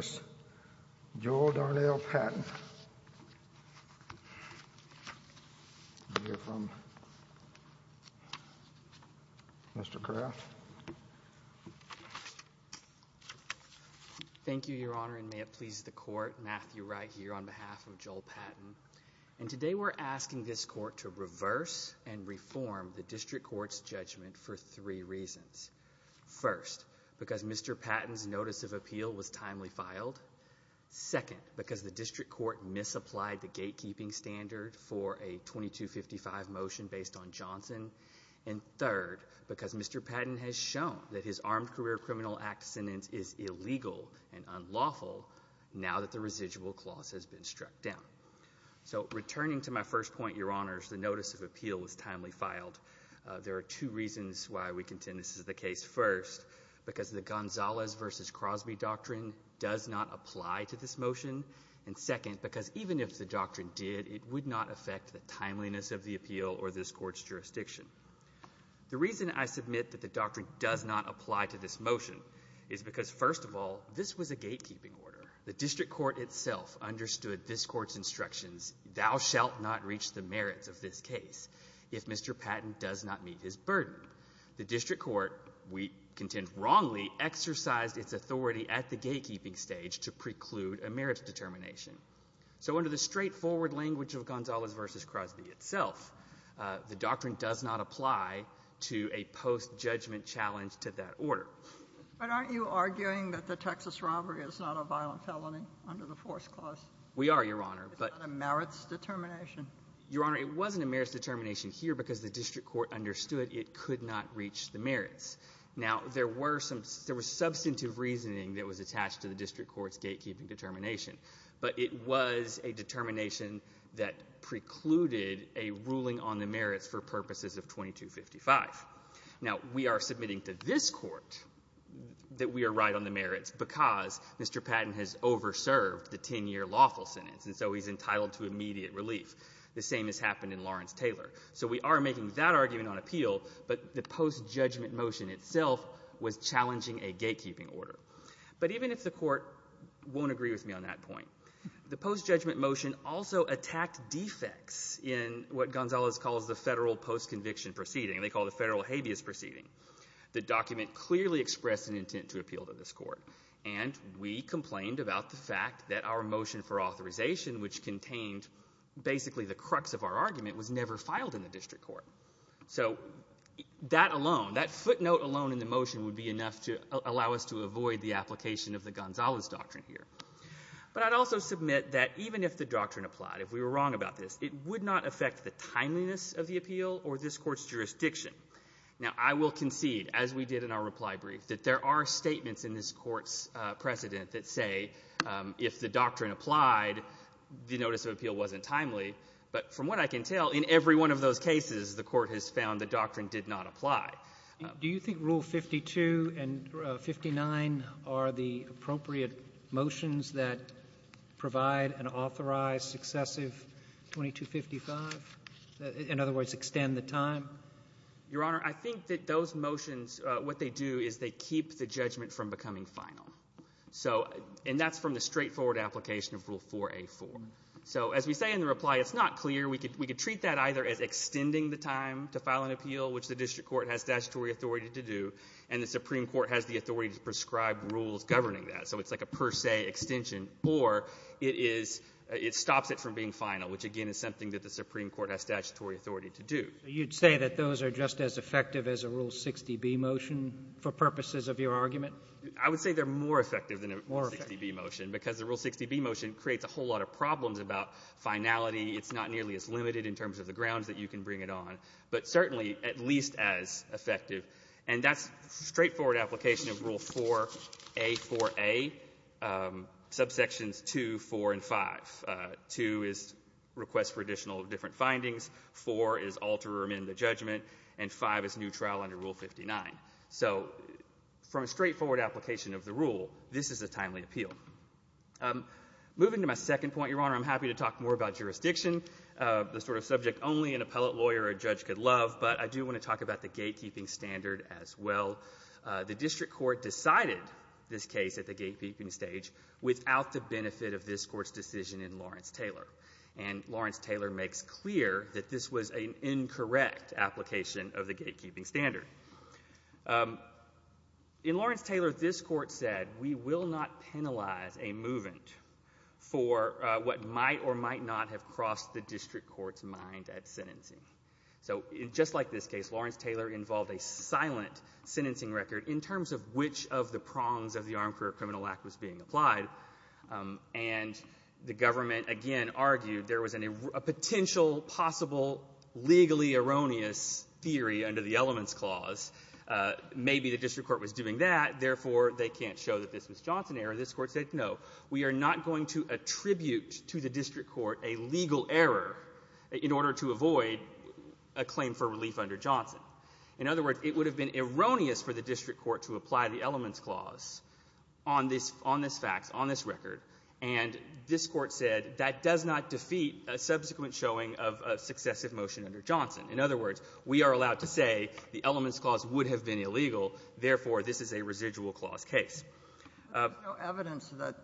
Thank you, Your Honor, and may it please the Court, Matthew Wright here on behalf of Joel Patton. And today we're asking this Court to reverse and reform the District Court's three reasons. First, because Mr. Patton's Notice of Appeal was timely filed. Second, because the District Court misapplied the gatekeeping standard for a 2255 motion based on Johnson. And third, because Mr. Patton has shown that his Armed Career Criminal Act sentence is illegal and unlawful now that the residual clause has been struck down. So returning to my first point, Your Honors, the Notice of Appeal was timely filed. There are two reasons why we contend this is the case. First, because the Gonzalez v. Crosby doctrine does not apply to this motion. And second, because even if the doctrine did, it would not affect the timeliness of the appeal or this Court's jurisdiction. The reason I submit that the doctrine does not apply to this motion is because, first of all, this was a gatekeeping order. The District Court itself understood this Court's instructions, thou shalt not reach the merits of this case if Mr. Patton does not meet his burden. The District Court, we contend wrongly, exercised its authority at the gatekeeping stage to preclude a merits determination. So under the straightforward language of Gonzalez v. Crosby itself, the doctrine does not apply to a post-judgment challenge to that order. But aren't you arguing that the Texas robbery is not a violent felony under the Fourth Clause? We are, Your Honor. But it's not a merits determination. Your Honor, it wasn't a merits determination here because the District Court understood it could not reach the merits. Now, there were some — there was substantive reasoning that was attached to the District Court's gatekeeping determination, but it was a determination that precluded a ruling on the merits for purposes of 2255. Now, we are submitting to this Court that we are right on the merits because Mr. Patton has over-served the 10-year lawful sentence, and so he's entitled to immediate relief, the same as happened in Lawrence-Taylor. So we are making that argument on appeal, but the post-judgment motion itself was challenging a gatekeeping order. But even if the Court won't agree with me on that point, the post-judgment motion also attacked defects in what Gonzalez calls the Federal Post-Conviction Proceeding. They call it the Federal Habeas Proceeding. The document clearly expressed an intent to appeal to this Court, and we complained about the fact that our motion for authorization, which contained basically the crux of our argument, was never filed in the District Court. So that alone, that footnote alone in the motion would be enough to allow us to avoid the application of the Gonzalez Doctrine here. But I'd also submit that even if the doctrine applied, if we were wrong about this, it would not affect the timeliness of the appeal or this Court's jurisdiction. Now, I will concede, as we did in our reply brief, that there are statements in this case that say if the doctrine applied, the notice of appeal wasn't timely. But from what I can tell, in every one of those cases, the Court has found the doctrine did not apply. Do you think Rule 52 and 59 are the appropriate motions that provide an authorized successive 2255? In other words, extend the time? Your Honor, I think that those motions, what they do is they keep the judgment from becoming final. So, and that's from the straightforward application of Rule 4A4. So as we say in the reply, it's not clear. We could treat that either as extending the time to file an appeal, which the District Court has statutory authority to do, and the Supreme Court has the authority to prescribe rules governing that. So it's like a per se extension. Or it is, it stops it from being final, which again is something that the Supreme Court has statutory authority to do. You'd say that those are just as effective as a Rule 60B motion for purposes of your argument? I would say they're more effective than a Rule 60B motion, because a Rule 60B motion creates a whole lot of problems about finality. It's not nearly as limited in terms of the grounds that you can bring it on, but certainly at least as effective. And that's straightforward application of Rule 4A4A, subsections 2, 4, and 5. 2 is request for additional different findings, 4 is alter or amend the judgment, and 5 is neutral under Rule 59. So from a straightforward application of the rule, this is a timely appeal. Moving to my second point, Your Honor, I'm happy to talk more about jurisdiction, the sort of subject only an appellate lawyer or judge could love, but I do want to talk about the gatekeeping standard as well. The District Court decided this case at the gatekeeping stage without the benefit of this Court's decision in Lawrence-Taylor. And Lawrence-Taylor makes clear that this was an incorrect application of the gatekeeping standard. In Lawrence-Taylor, this Court said, we will not penalize a movant for what might or might not have crossed the District Court's mind at sentencing. So just like this case, Lawrence-Taylor involved a silent sentencing record in terms of which of the prongs of the Armed Career Criminal Act was being applied. And the government, again, argued there was a potential possible legally erroneous theory under the Elements Clause. Maybe the District Court was doing that, therefore, they can't show that this was Johnson error. This Court said, no, we are not going to attribute to the District Court a legal error in order to avoid a claim for relief under Johnson. In other words, it would have been erroneous for the District Court to apply the Elements Clause on this fact, on this record. And this Court said that does not defeat a subsequent showing of a successive motion under Johnson. In other words, we are allowed to say the Elements Clause would have been illegal, therefore, this is a residual clause case. But there's no evidence that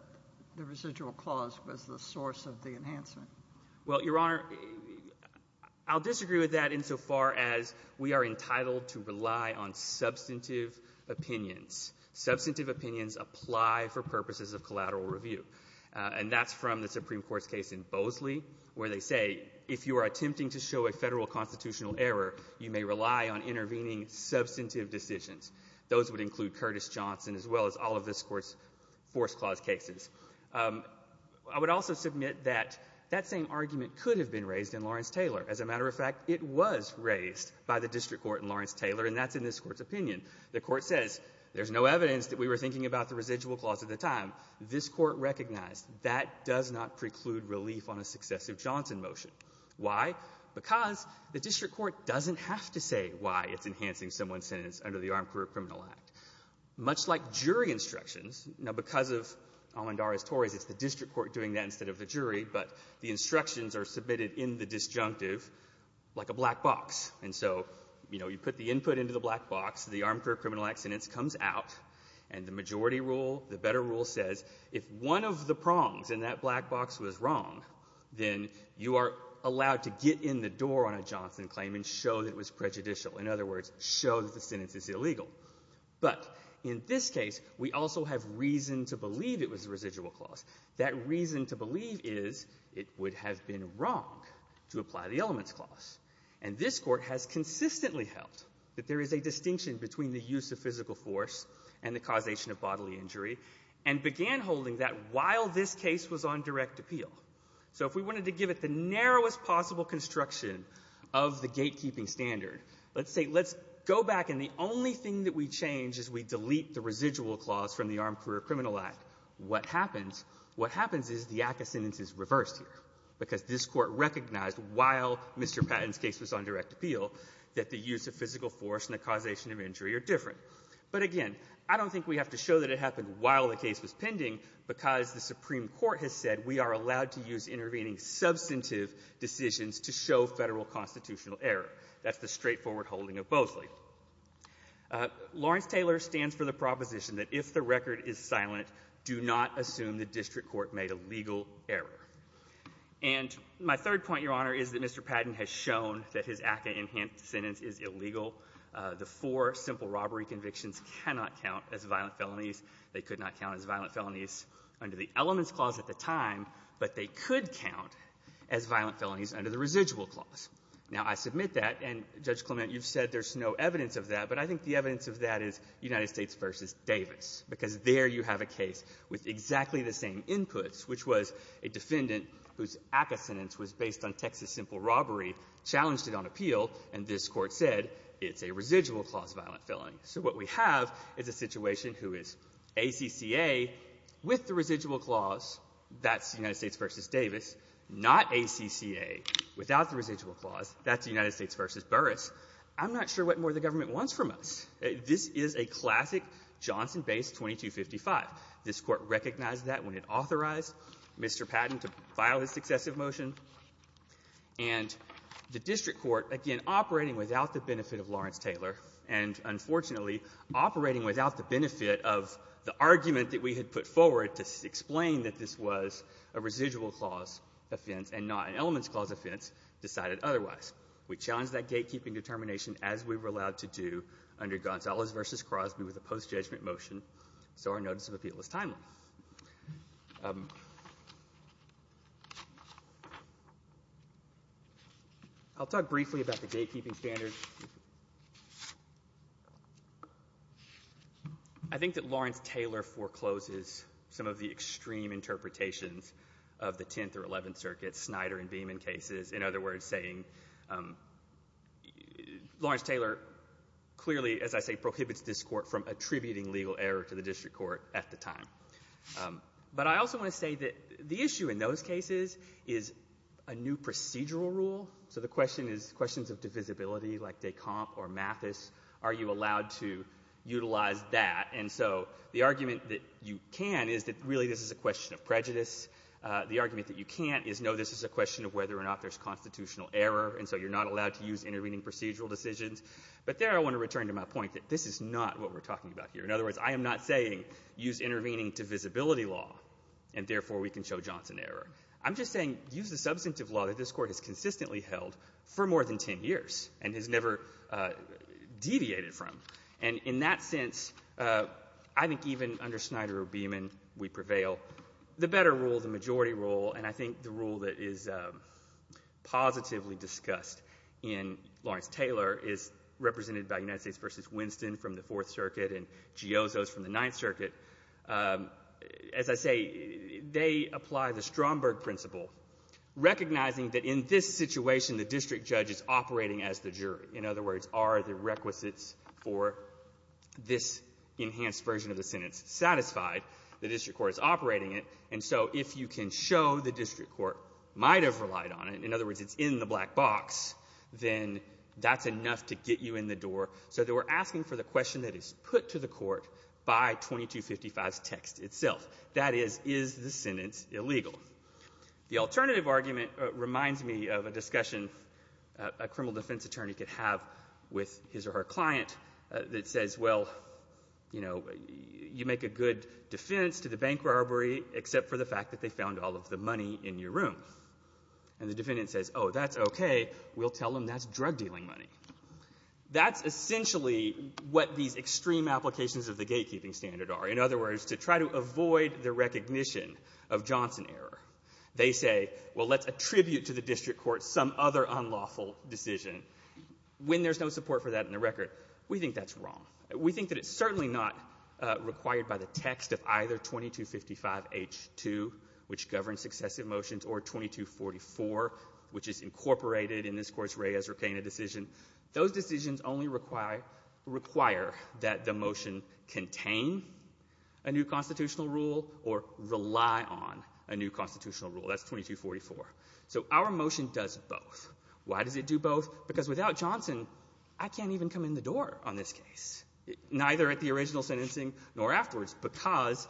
the residual clause was the source of the enhancement. Well, Your Honor, I'll disagree with that insofar as we are entitled to rely on substantive opinions. Substantive opinions apply for purposes of collateral review. And that's from the Supreme Court's case in Bosley, where they say, if you are attempting to show a Federal constitutional error, you may rely on intervening substantive decisions. Those would include Curtis Johnson as well as all of this Court's Force Clause cases. I would also submit that that same argument could have been raised in Lawrence-Taylor. As a matter of fact, it was raised by the District Court in Lawrence-Taylor, and that's in this Court's opinion. The Court says there's no evidence that we were thinking about the residual clause at the time. This Court recognized that does not preclude relief on a successive Johnson motion. Why? Because the District Court doesn't have to say why it's enhancing someone's sentence under the Armed Career Criminal Act. Much like jury instructions, now, because of Almendarez-Torres, it's the District Court doing that instead of the jury, but the instructions are submitted in the disjunctive like a black box. And so, you know, you put the input into the black box, the Armed Career Criminal Act sentence comes out, and the majority rule, the better rule says if one of the And so we're allowed to get in the door on a Johnson claim and show that it was prejudicial. In other words, show that the sentence is illegal. But in this case, we also have reason to believe it was a residual clause. That reason to believe is it would have been wrong to apply the Elements Clause. And this Court has consistently held that there is a distinction between the use of physical force and the causation of bodily injury, and began holding that while this case was on direct appeal. So if we wanted to give it the narrowest possible construction of the gatekeeping standard, let's say let's go back and the only thing that we change is we delete the residual clause from the Armed Career Criminal Act. What happens? What happens is the act of sentence is reversed here, because this Court recognized while Mr. Patton's case was on direct appeal that the use of physical force and the causation of injury are different. But again, I don't think we have to show that it happened while the case was pending because the Supreme Court has said we are allowed to use intervening substantive decisions to show Federal constitutional error. That's the straightforward holding of Bosley. Lawrence-Taylor stands for the proposition that if the record is silent, do not assume the district court made a legal error. And my third point, Your Honor, is that Mr. Patton has shown that his ACCA enhanced sentence is illegal. The four simple robbery convictions cannot count as violent felonies. They could not count as violent felonies under the elements clause at the time, but they could count as violent felonies under the residual clause. Now, I submit that, and, Judge Clement, you've said there's no evidence of that, but I think the evidence of that is United States v. Davis, because there you have a case with exactly the same inputs, which was a defendant whose ACCA sentence was based on Texas simple robbery, challenged it on appeal, and this Court said it's a residual clause violent felony. So what we have is a situation who is ACCA with the residual clause. That's United States v. Davis. Not ACCA without the residual clause. That's United States v. Burris. I'm not sure what more the government wants from us. This is a classic Johnson-based 2255. This Court recognized that when it authorized Mr. Patton to file his successive motion. And the district court, again, operating without the benefit of Lawrence-Taylor and, unfortunately, operating without the benefit of the argument that we had put forward to explain that this was a residual clause offense and not an elements clause offense, decided otherwise. We challenged that gatekeeping determination as we were allowed to do under Gonzales v. Crosby with a post-judgment motion, so our notice of appeal is timely. I'll talk briefly about the gatekeeping standard. I think that Lawrence-Taylor forecloses some of the extreme interpretations of the Tenth or Eleventh Circuit Snyder and Beaman cases, in other words, saying Lawrence-Taylor clearly, as I say, prohibits this Court from attributing legal error to the district court at the time. But I also want to say that the issue in those cases is a new procedural rule. So the question is questions of divisibility, like de Camp or Mathis. Are you allowed to utilize that? And so the argument that you can is that really this is a question of prejudice. The argument that you can't is, no, this is a question of whether or not there's constitutional error, and so you're not allowed to use intervening procedural decisions. But there I want to return to my point that this is not what we're talking about here. In other words, I am not saying use intervening divisibility law, and therefore, we can show Johnson error. I'm just saying use the substantive law that this Court has consistently held for more than 10 years and has never deviated from. And in that sense, I think even under Snyder or Beaman, we prevail. The better rule, the majority rule, and I think the rule that is positively discussed in Lawrence-Taylor is represented by United States v. Winston from the Fourth Circuit and Giozzo's from the Ninth Circuit. As I say, they apply the Stromberg principle, recognizing that in this situation, the district judge is operating as the jury. In other words, are the requisites for this enhanced version of the sentence satisfied? The district court is operating it, and so if you can show the district court might have relied on it, in other words, it's in the black box, then that's enough to get you in the door. So they were asking for the question that is put to the court by 2255's text itself. That is, is the sentence illegal? The alternative argument reminds me of a discussion a criminal defense attorney could have with his or her client that says, well, you make a good defense to the bank robbery except for the fact that they found all of the money in your room. And the defendant says, oh, that's OK. We'll tell them that's drug dealing money. That's essentially what these extreme applications of the gatekeeping standard are. In other words, to try to avoid the recognition of Johnson error, they say, well, let's attribute to the district court some other unlawful decision. When there's no support for that in the record, we think that's wrong. We think that it's certainly not required by the text of either 2255H2, which governs successive motions, or 2244, which is incorporated in this Court's Reyes Urquain decision. Those decisions only require that the motion contain a new constitutional rule or rely on a new constitutional rule. That's 2244. So our motion does both. Why does it do both? Because without Johnson, I can't even come in the door on this case, neither at the original sentencing nor afterwards, because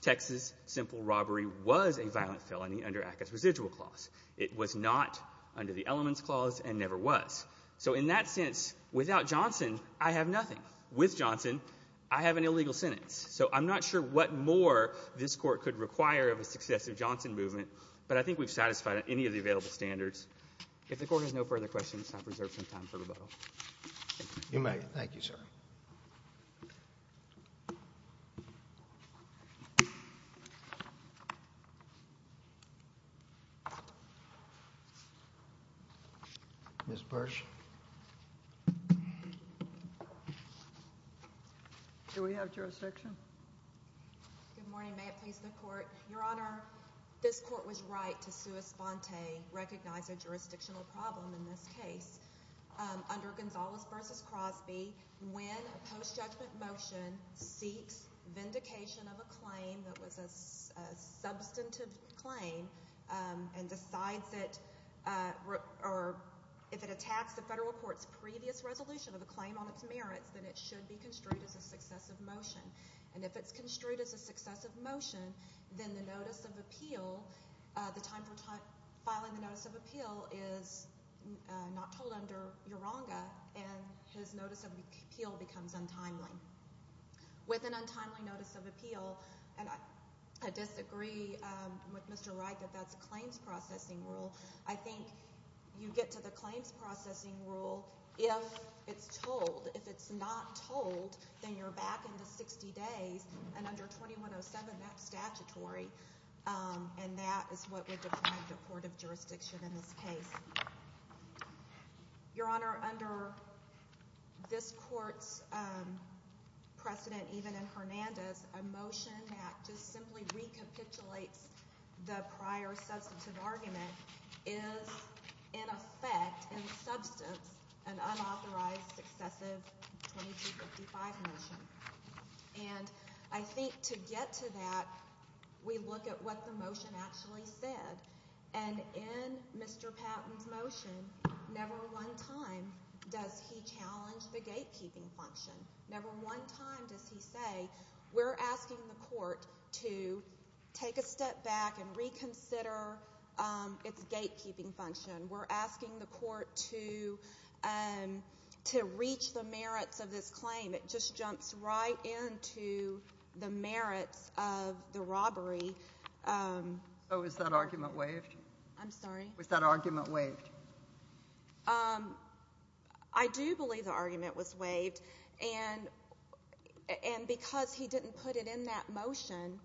Texas simple robbery was a violent felony under Atkins' residual clause. It was not under the elements clause and never was. So in that sense, without Johnson, I have nothing. With Johnson, I have an illegal sentence. So I'm not sure what more this Court could require of a successive Johnson movement, but I think we've satisfied any of the available standards. If the Court has no further questions, I have reserved some time for rebuttal. You may. Thank you, sir. Ms. Bursch? Do we have jurisdiction? Good morning. May it please the Court? Your Honor, this Court was right to sua sponte, recognize a jurisdictional problem in this case. Under Gonzales v. Crosby, when a post-judgment motion seeks vindication of a claim that was a substantive claim and decides it, or if it attacks the federal court's previous resolution of the claim on its merits, then it should be construed as a successive motion. And if it's construed as a successive motion, then the notice of appeal, the time for filing the notice of appeal is not told under Uranga, and his notice of appeal becomes untimely. With an untimely notice of appeal, and I disagree with Mr. Wright that that's a claims processing rule. I think you get to the claims processing rule if it's told. If it's not told, then you're back into 60 days and under 2107, that's statutory, and that is what would define the court of jurisdiction in this case. Your Honor, under this Court's precedent, even in Hernandez, a motion that just simply recapitulates the prior substantive argument is in effect, in substance, an unauthorized successive 2255 motion. And I think to get to that, we look at what the motion actually said. And in Mr. Patton's motion, never one time does he challenge the gatekeeping function. Never one time does he say, we're asking the court to take a step back and reconsider its gatekeeping function. We're asking the court to reach the merits of this claim. It just jumps right into the merits of the robbery. Oh, is that argument waived? I'm sorry? Was that argument waived? I do believe the argument was waived, and because he didn't put it in that motion,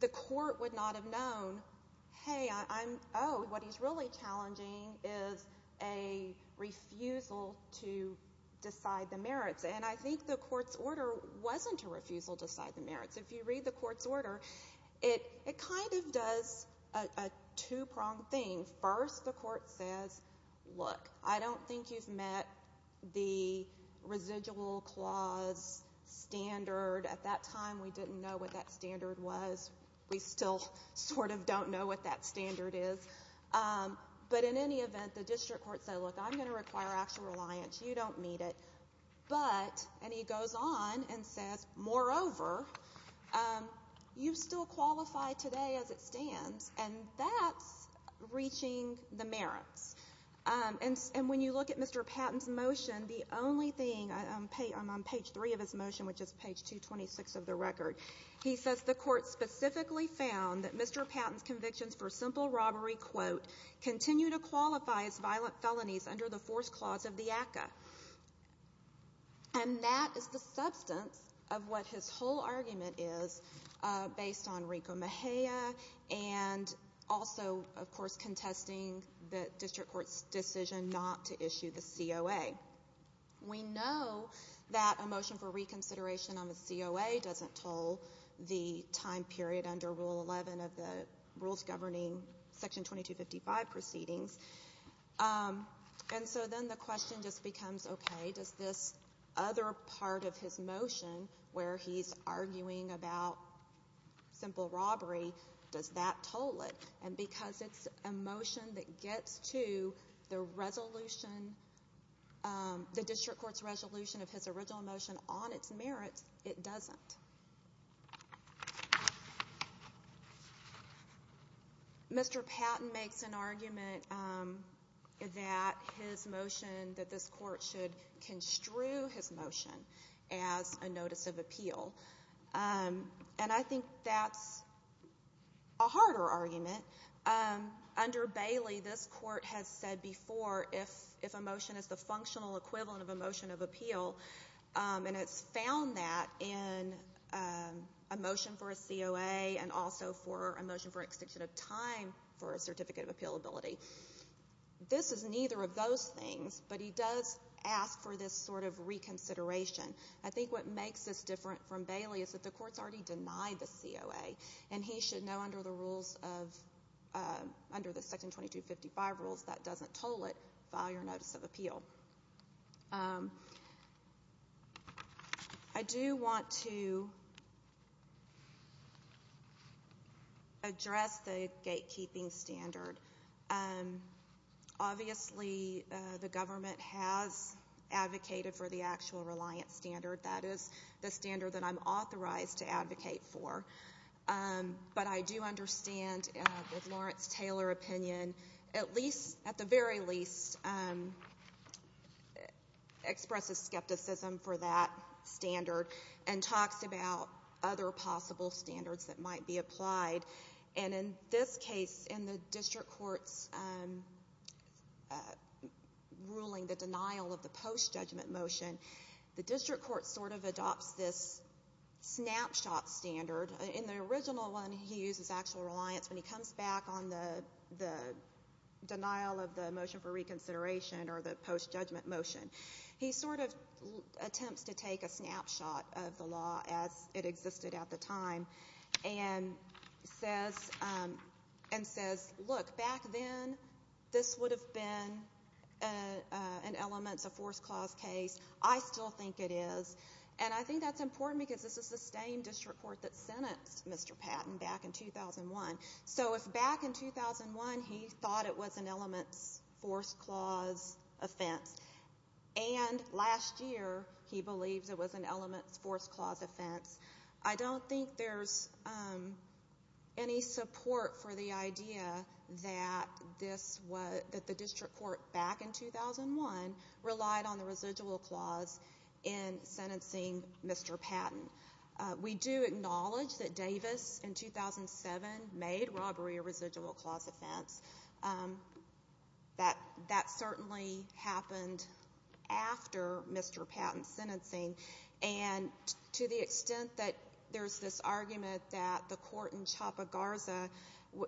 the court would not have known, hey, I'm, oh, what he's really challenging is a refusal to decide the merits. And I think the court's order wasn't a refusal to decide the merits. If you read the court's order, it kind of does a two-pronged thing. First, the court says, look, I don't think you've met the residual clause standard. At that time, we didn't know what that standard was. We still sort of don't know what that standard is. But in any event, the district court said, look, I'm going to require actual reliance. You don't meet it. But, and he goes on and says, moreover, you still qualify today as it stands, and that's reaching the merits. And when you look at Mr. Patton's motion, the only thing on page 3 of his motion, which is page 226 of the record, he says, the court specifically found that Mr. Patton's convictions for simple robbery, quote, continue to qualify as violent felonies under the fourth clause of the ACCA. And that is the substance of what his whole argument is based on Rico Mejia and also, of course, contesting the district court's decision not to issue the COA. We know that a motion for reconsideration on the COA doesn't toll the time period under Rule 11 of the rules governing Section 2255 proceedings. And so then the question just becomes, okay, does this other part of his motion, where he's arguing about simple robbery, does that toll it? And because it's a motion that gets to the resolution, the district court's resolution of his original motion on its merits, it doesn't. Mr. Patton makes an argument that his motion, that this court should construe his motion as a notice of appeal, and I think that's a harder argument. Under Bailey, this court has said before, if a motion is the functional equivalent of a motion of appeal, and it's found that in a motion for a COA and also for a motion for an extension of time for a certificate of appealability. This is neither of those things, but he does ask for this sort of reconsideration. I think what makes this different from Bailey is that the court's already denied the COA, and he should know under the rules of, under the Section 2255 rules, that doesn't toll it via notice of appeal. I do want to address the gatekeeping standard. Obviously, the government has advocated for the actual reliance standard. That is the standard that I'm authorized to advocate for. But I do understand that Lawrence Taylor opinion, at the very least, expresses skepticism for that standard and talks about other possible standards that might be applied. And in this case, in the district court's ruling, the denial of the post-judgment motion, the district court sort of adopts this snapshot standard. In the original one, he uses actual reliance. When he comes back on the denial of the motion for reconsideration or the post-judgment motion, he sort of attempts to take a snapshot of the law as it existed at the time and says, look, back then this would have been an elements of force clause case. I still think it is. And I think that's important because this is the same district court that sentenced Mr. Patton back in 2001. So if back in 2001 he thought it was an elements force clause offense and last year he believes it was an elements force clause offense, I don't think there's any support for the idea that the district court back in 2001 relied on the residual clause in sentencing Mr. Patton. We do acknowledge that Davis in 2007 made robbery a residual clause offense. That certainly happened after Mr. Patton's sentencing. And to the extent that there's this argument that the court in Chapa Garza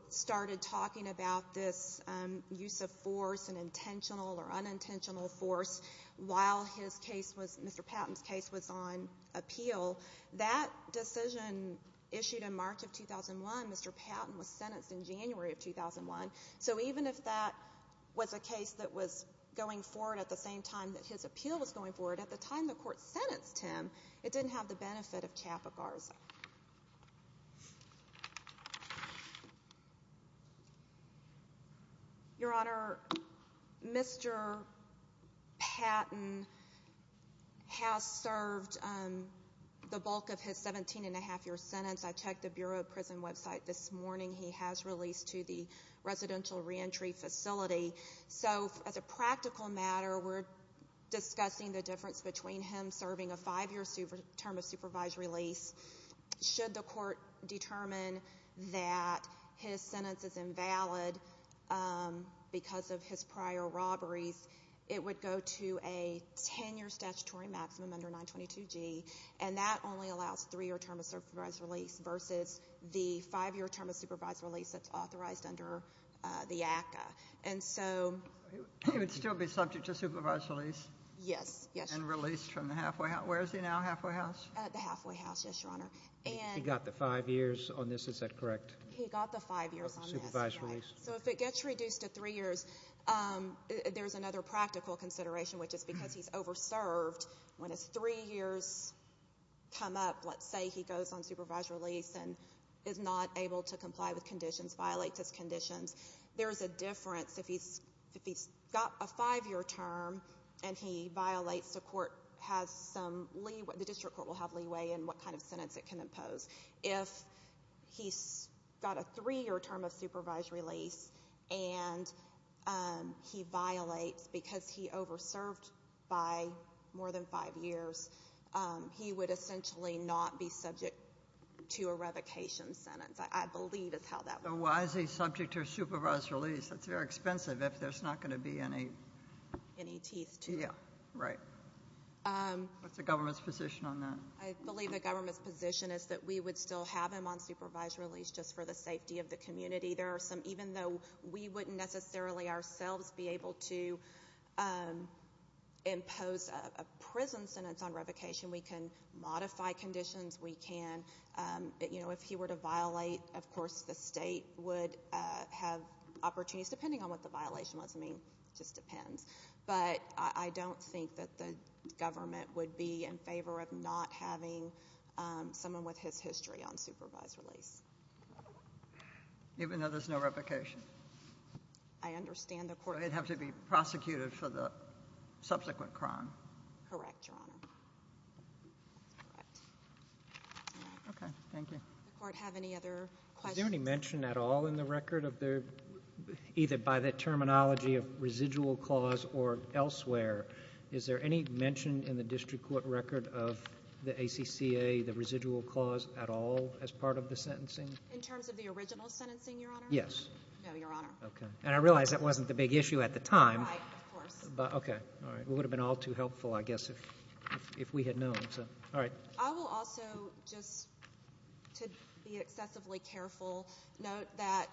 started talking about this use of force and intentional or unintentional force while his case was Mr. Patton's case was on appeal, that decision issued in March of 2001, Mr. Patton was sentenced in January of 2001. So even if that was a case that was going forward at the same time that his appeal was going forward, at the time the court sentenced him, it didn't have the benefit of Chapa Garza. Your Honor, Mr. Patton has served the bulk of his 17-and-a-half-year sentence. I checked the Bureau of Prison website this morning. He has released to the residential reentry facility. So as a practical matter, we're discussing the difference between him serving a five-year term of supervised release. Should the court determine that his sentence is invalid because of his prior robberies, it would go to a 10-year statutory maximum under 922G, and that only allows three-year term of supervised release versus the five-year term of supervised release that's authorized under the ACCA. He would still be subject to supervised release? Yes. And released from the halfway house? Where is he now, halfway house? At the halfway house, yes, Your Honor. He got the five years on this, is that correct? He got the five years on this. Supervised release. So if it gets reduced to three years, there's another practical consideration, which is because he's over-served. When his three years come up, let's say he goes on supervised release and is not able to comply with conditions, violates his conditions, there's a difference if he's got a five-year term and he violates, the court has some leeway, the district court will have leeway in what kind of sentence it can impose. If he's got a three-year term of supervised release and he violates because he over-served by more than five years, he would essentially not be subject to a revocation sentence. I believe is how that works. So why is he subject to a supervised release? That's very expensive if there's not going to be any teeth, too. Yeah, right. What's the government's position on that? I believe the government's position is that we would still have him on supervised release just for the safety of the community. Even though we wouldn't necessarily ourselves be able to impose a prison sentence on revocation, we can modify conditions, we can. If he were to violate, of course, the state would have opportunities, depending on what the violation was, I mean, it just depends. But I don't think that the government would be in favor of not having someone with his history on supervised release. Even though there's no revocation? I understand the court would have to be prosecuted for the subsequent crime. Correct, Your Honor. Okay, thank you. Does the court have any other questions? Is there any mention at all in the record of either by the terminology of residual clause or elsewhere, is there any mention in the district court record of the ACCA, the residual clause, at all as part of the sentencing? In terms of the original sentencing, Your Honor? Yes. No, Your Honor. Okay. Right, of course. Okay, all right. It would have been all too helpful, I guess, if we had known. All right. I will also, just to be excessively careful, note that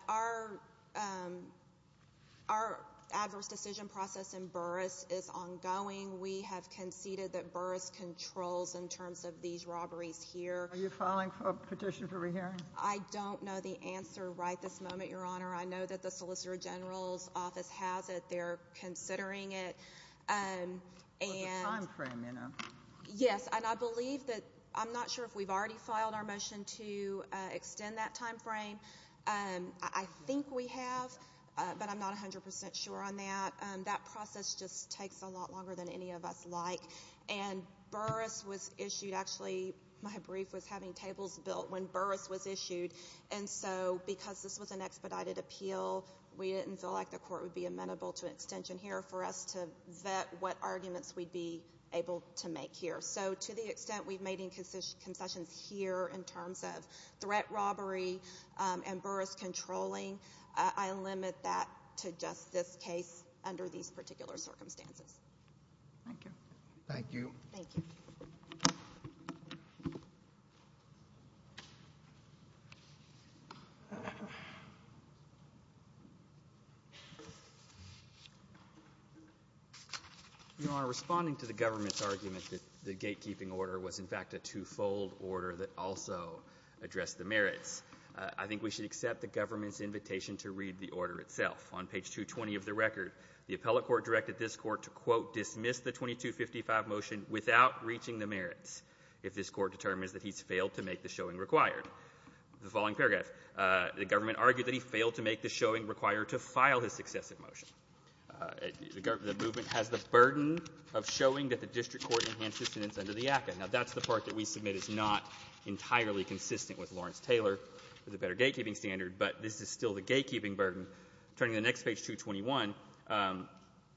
our adverse decision process in Burris is ongoing. We have conceded that Burris controls in terms of these robberies here. Are you filing a petition for re-hearing? I don't know the answer right this moment, Your Honor. I know that the Solicitor General's office has it. They're considering it. It's a time frame, you know. Yes, and I believe that—I'm not sure if we've already filed our motion to extend that time frame. I think we have, but I'm not 100% sure on that. That process just takes a lot longer than any of us like. And Burris was issued—actually, my brief was having tables built when Burris was issued. And so because this was an expedited appeal, we didn't feel like the court would be amenable to an extension here for us to vet what arguments we'd be able to make here. So to the extent we've made concessions here in terms of threat robbery and Burris controlling, I limit that to just this case under these particular circumstances. Thank you. Thank you. Thank you. Your Honor, responding to the government's argument that the gatekeeping order was, in fact, a twofold order that also addressed the merits, I think we should accept the government's invitation to read the order itself. On page 220 of the record, the appellate court directed this court to, quote, dismiss the 2255 motion without reaching the merits if this court determines that he's failed to make the showing required. The following paragraph. The government argued that he failed to make the showing required to file his successive motion. The movement has the burden of showing that the district court enhanced his sentence under the ACCA. Now, that's the part that we submit is not entirely consistent with Lawrence-Taylor, the better gatekeeping standard, but this is still the gatekeeping burden. Turning to the next page, 221,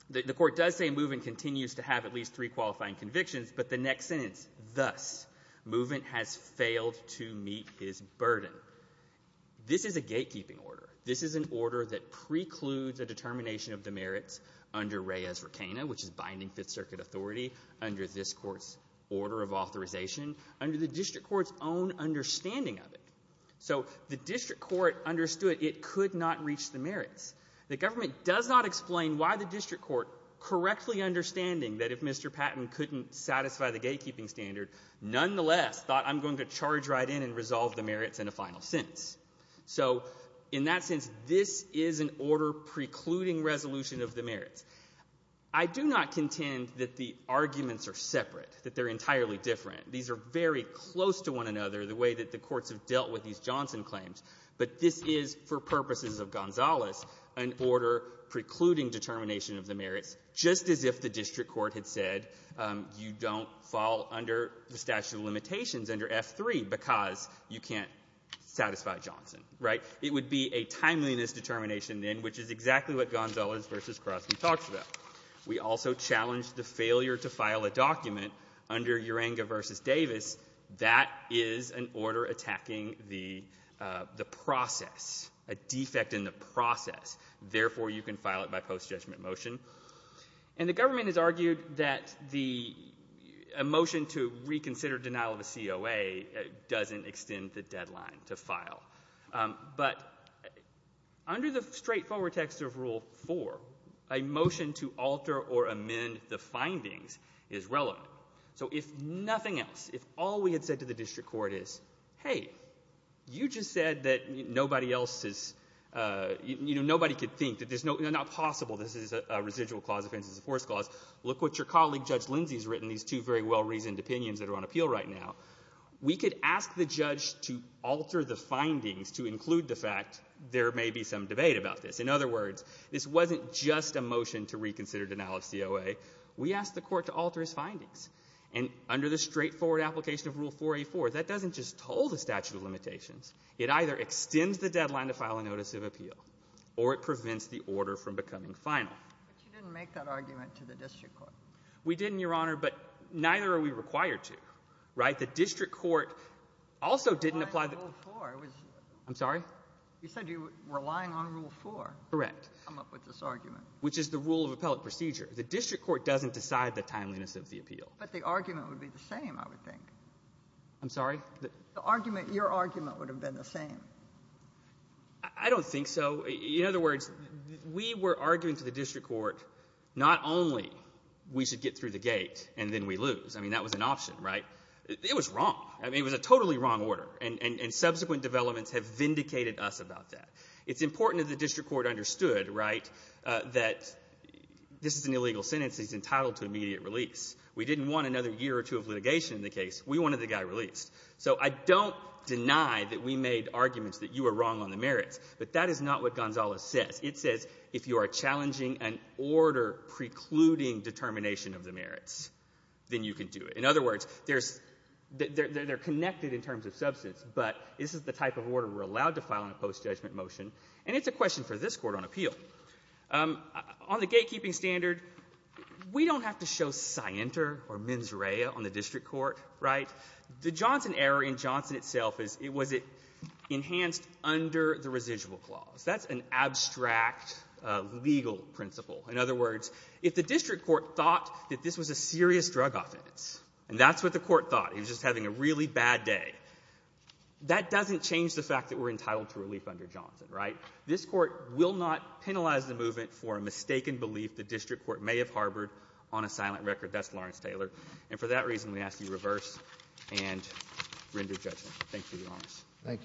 the court does say movement continues to have at least three qualifying convictions, but the next sentence, thus, movement has failed to meet his burden. This is a gatekeeping order. This is an order that precludes a determination of the merits under Reyes-Racana, which is binding Fifth Circuit authority, under this court's order of authorization, under the district court's own understanding of it. So the district court understood it could not reach the merits. The government does not explain why the district court, correctly understanding that if Mr. Patton couldn't satisfy the gatekeeping standard, nonetheless thought I'm going to charge right in and resolve the merits in a final sentence. So in that sense, this is an order precluding resolution of the merits. I do not contend that the arguments are separate, that they're entirely different. These are very close to one another, the way that the courts have dealt with these Johnson claims, but this is, for purposes of Gonzales, an order precluding determination of the merits, just as if the district court had said you don't fall under the statute of limitations under F-3 because you can't satisfy Johnson, right? It would be a timeliness determination then, which is exactly what Gonzales v. Crosby talks about. We also challenge the failure to file a document under Urenga v. Davis. That is an order attacking the process, a defect in the process. Therefore, you can file it by post-judgment motion. And the government has argued that a motion to reconsider denial of a COA doesn't extend the deadline to file. But under the straightforward text of Rule 4, a motion to alter or amend the findings is relevant. So if nothing else, if all we had said to the district court is, hey, you just said that nobody else is, you know, nobody could think that there's no, you know, not possible this is a residual clause, offense is a forced clause. Look what your colleague Judge Lindsey has written, these two very well-reasoned opinions that are on appeal right now. We could ask the judge to alter the findings to include the fact there may be some debate about this. In other words, this wasn't just a motion to reconsider denial of COA. We asked the Court to alter its findings. And under the straightforward application of Rule 4a4, that doesn't just toll the statute of limitations. It either extends the deadline to file a notice of appeal, or it prevents the order from becoming final. But you didn't make that argument to the district court. We didn't, Your Honor, but neither are we required to. Right? The district court also didn't apply the ---- Relying on Rule 4 was ---- I'm sorry? You said you were relying on Rule 4. Correct. To come up with this argument. Which is the rule of appellate procedure. The district court doesn't decide the timeliness of the appeal. But the argument would be the same, I would think. I'm sorry? The argument ---- your argument would have been the same. I don't think so. In other words, we were arguing to the district court not only we should get through the gate and then we lose. I mean, that was an option, right? It was wrong. I mean, it was a totally wrong order. And subsequent developments have vindicated us about that. It's important that the district court understood, right, that this is an illegal sentence. He's entitled to immediate release. We didn't want another year or two of litigation in the case. We wanted the guy released. So I don't deny that we made arguments that you were wrong on the merits. But that is not what Gonzales says. It says if you are challenging an order precluding determination of the merits, then you can do it. In other words, there's ---- they're connected in terms of substance, but this is the jurisdiction, and it's a question for this Court on appeal. On the gatekeeping standard, we don't have to show scienter or mens rea on the district court, right? The Johnson error in Johnson itself is, was it enhanced under the residual clause? That's an abstract legal principle. In other words, if the district court thought that this was a serious drug offense and that's what the court thought, he was just having a really bad day, that doesn't change the fact that we're entitled to relief under Johnson, right? This Court will not penalize the movement for a mistaken belief the district court may have harbored on a silent record. That's Lawrence-Taylor. And for that reason, we ask that you reverse and render judgment. Thank you, Your Honor. Thank you, sir.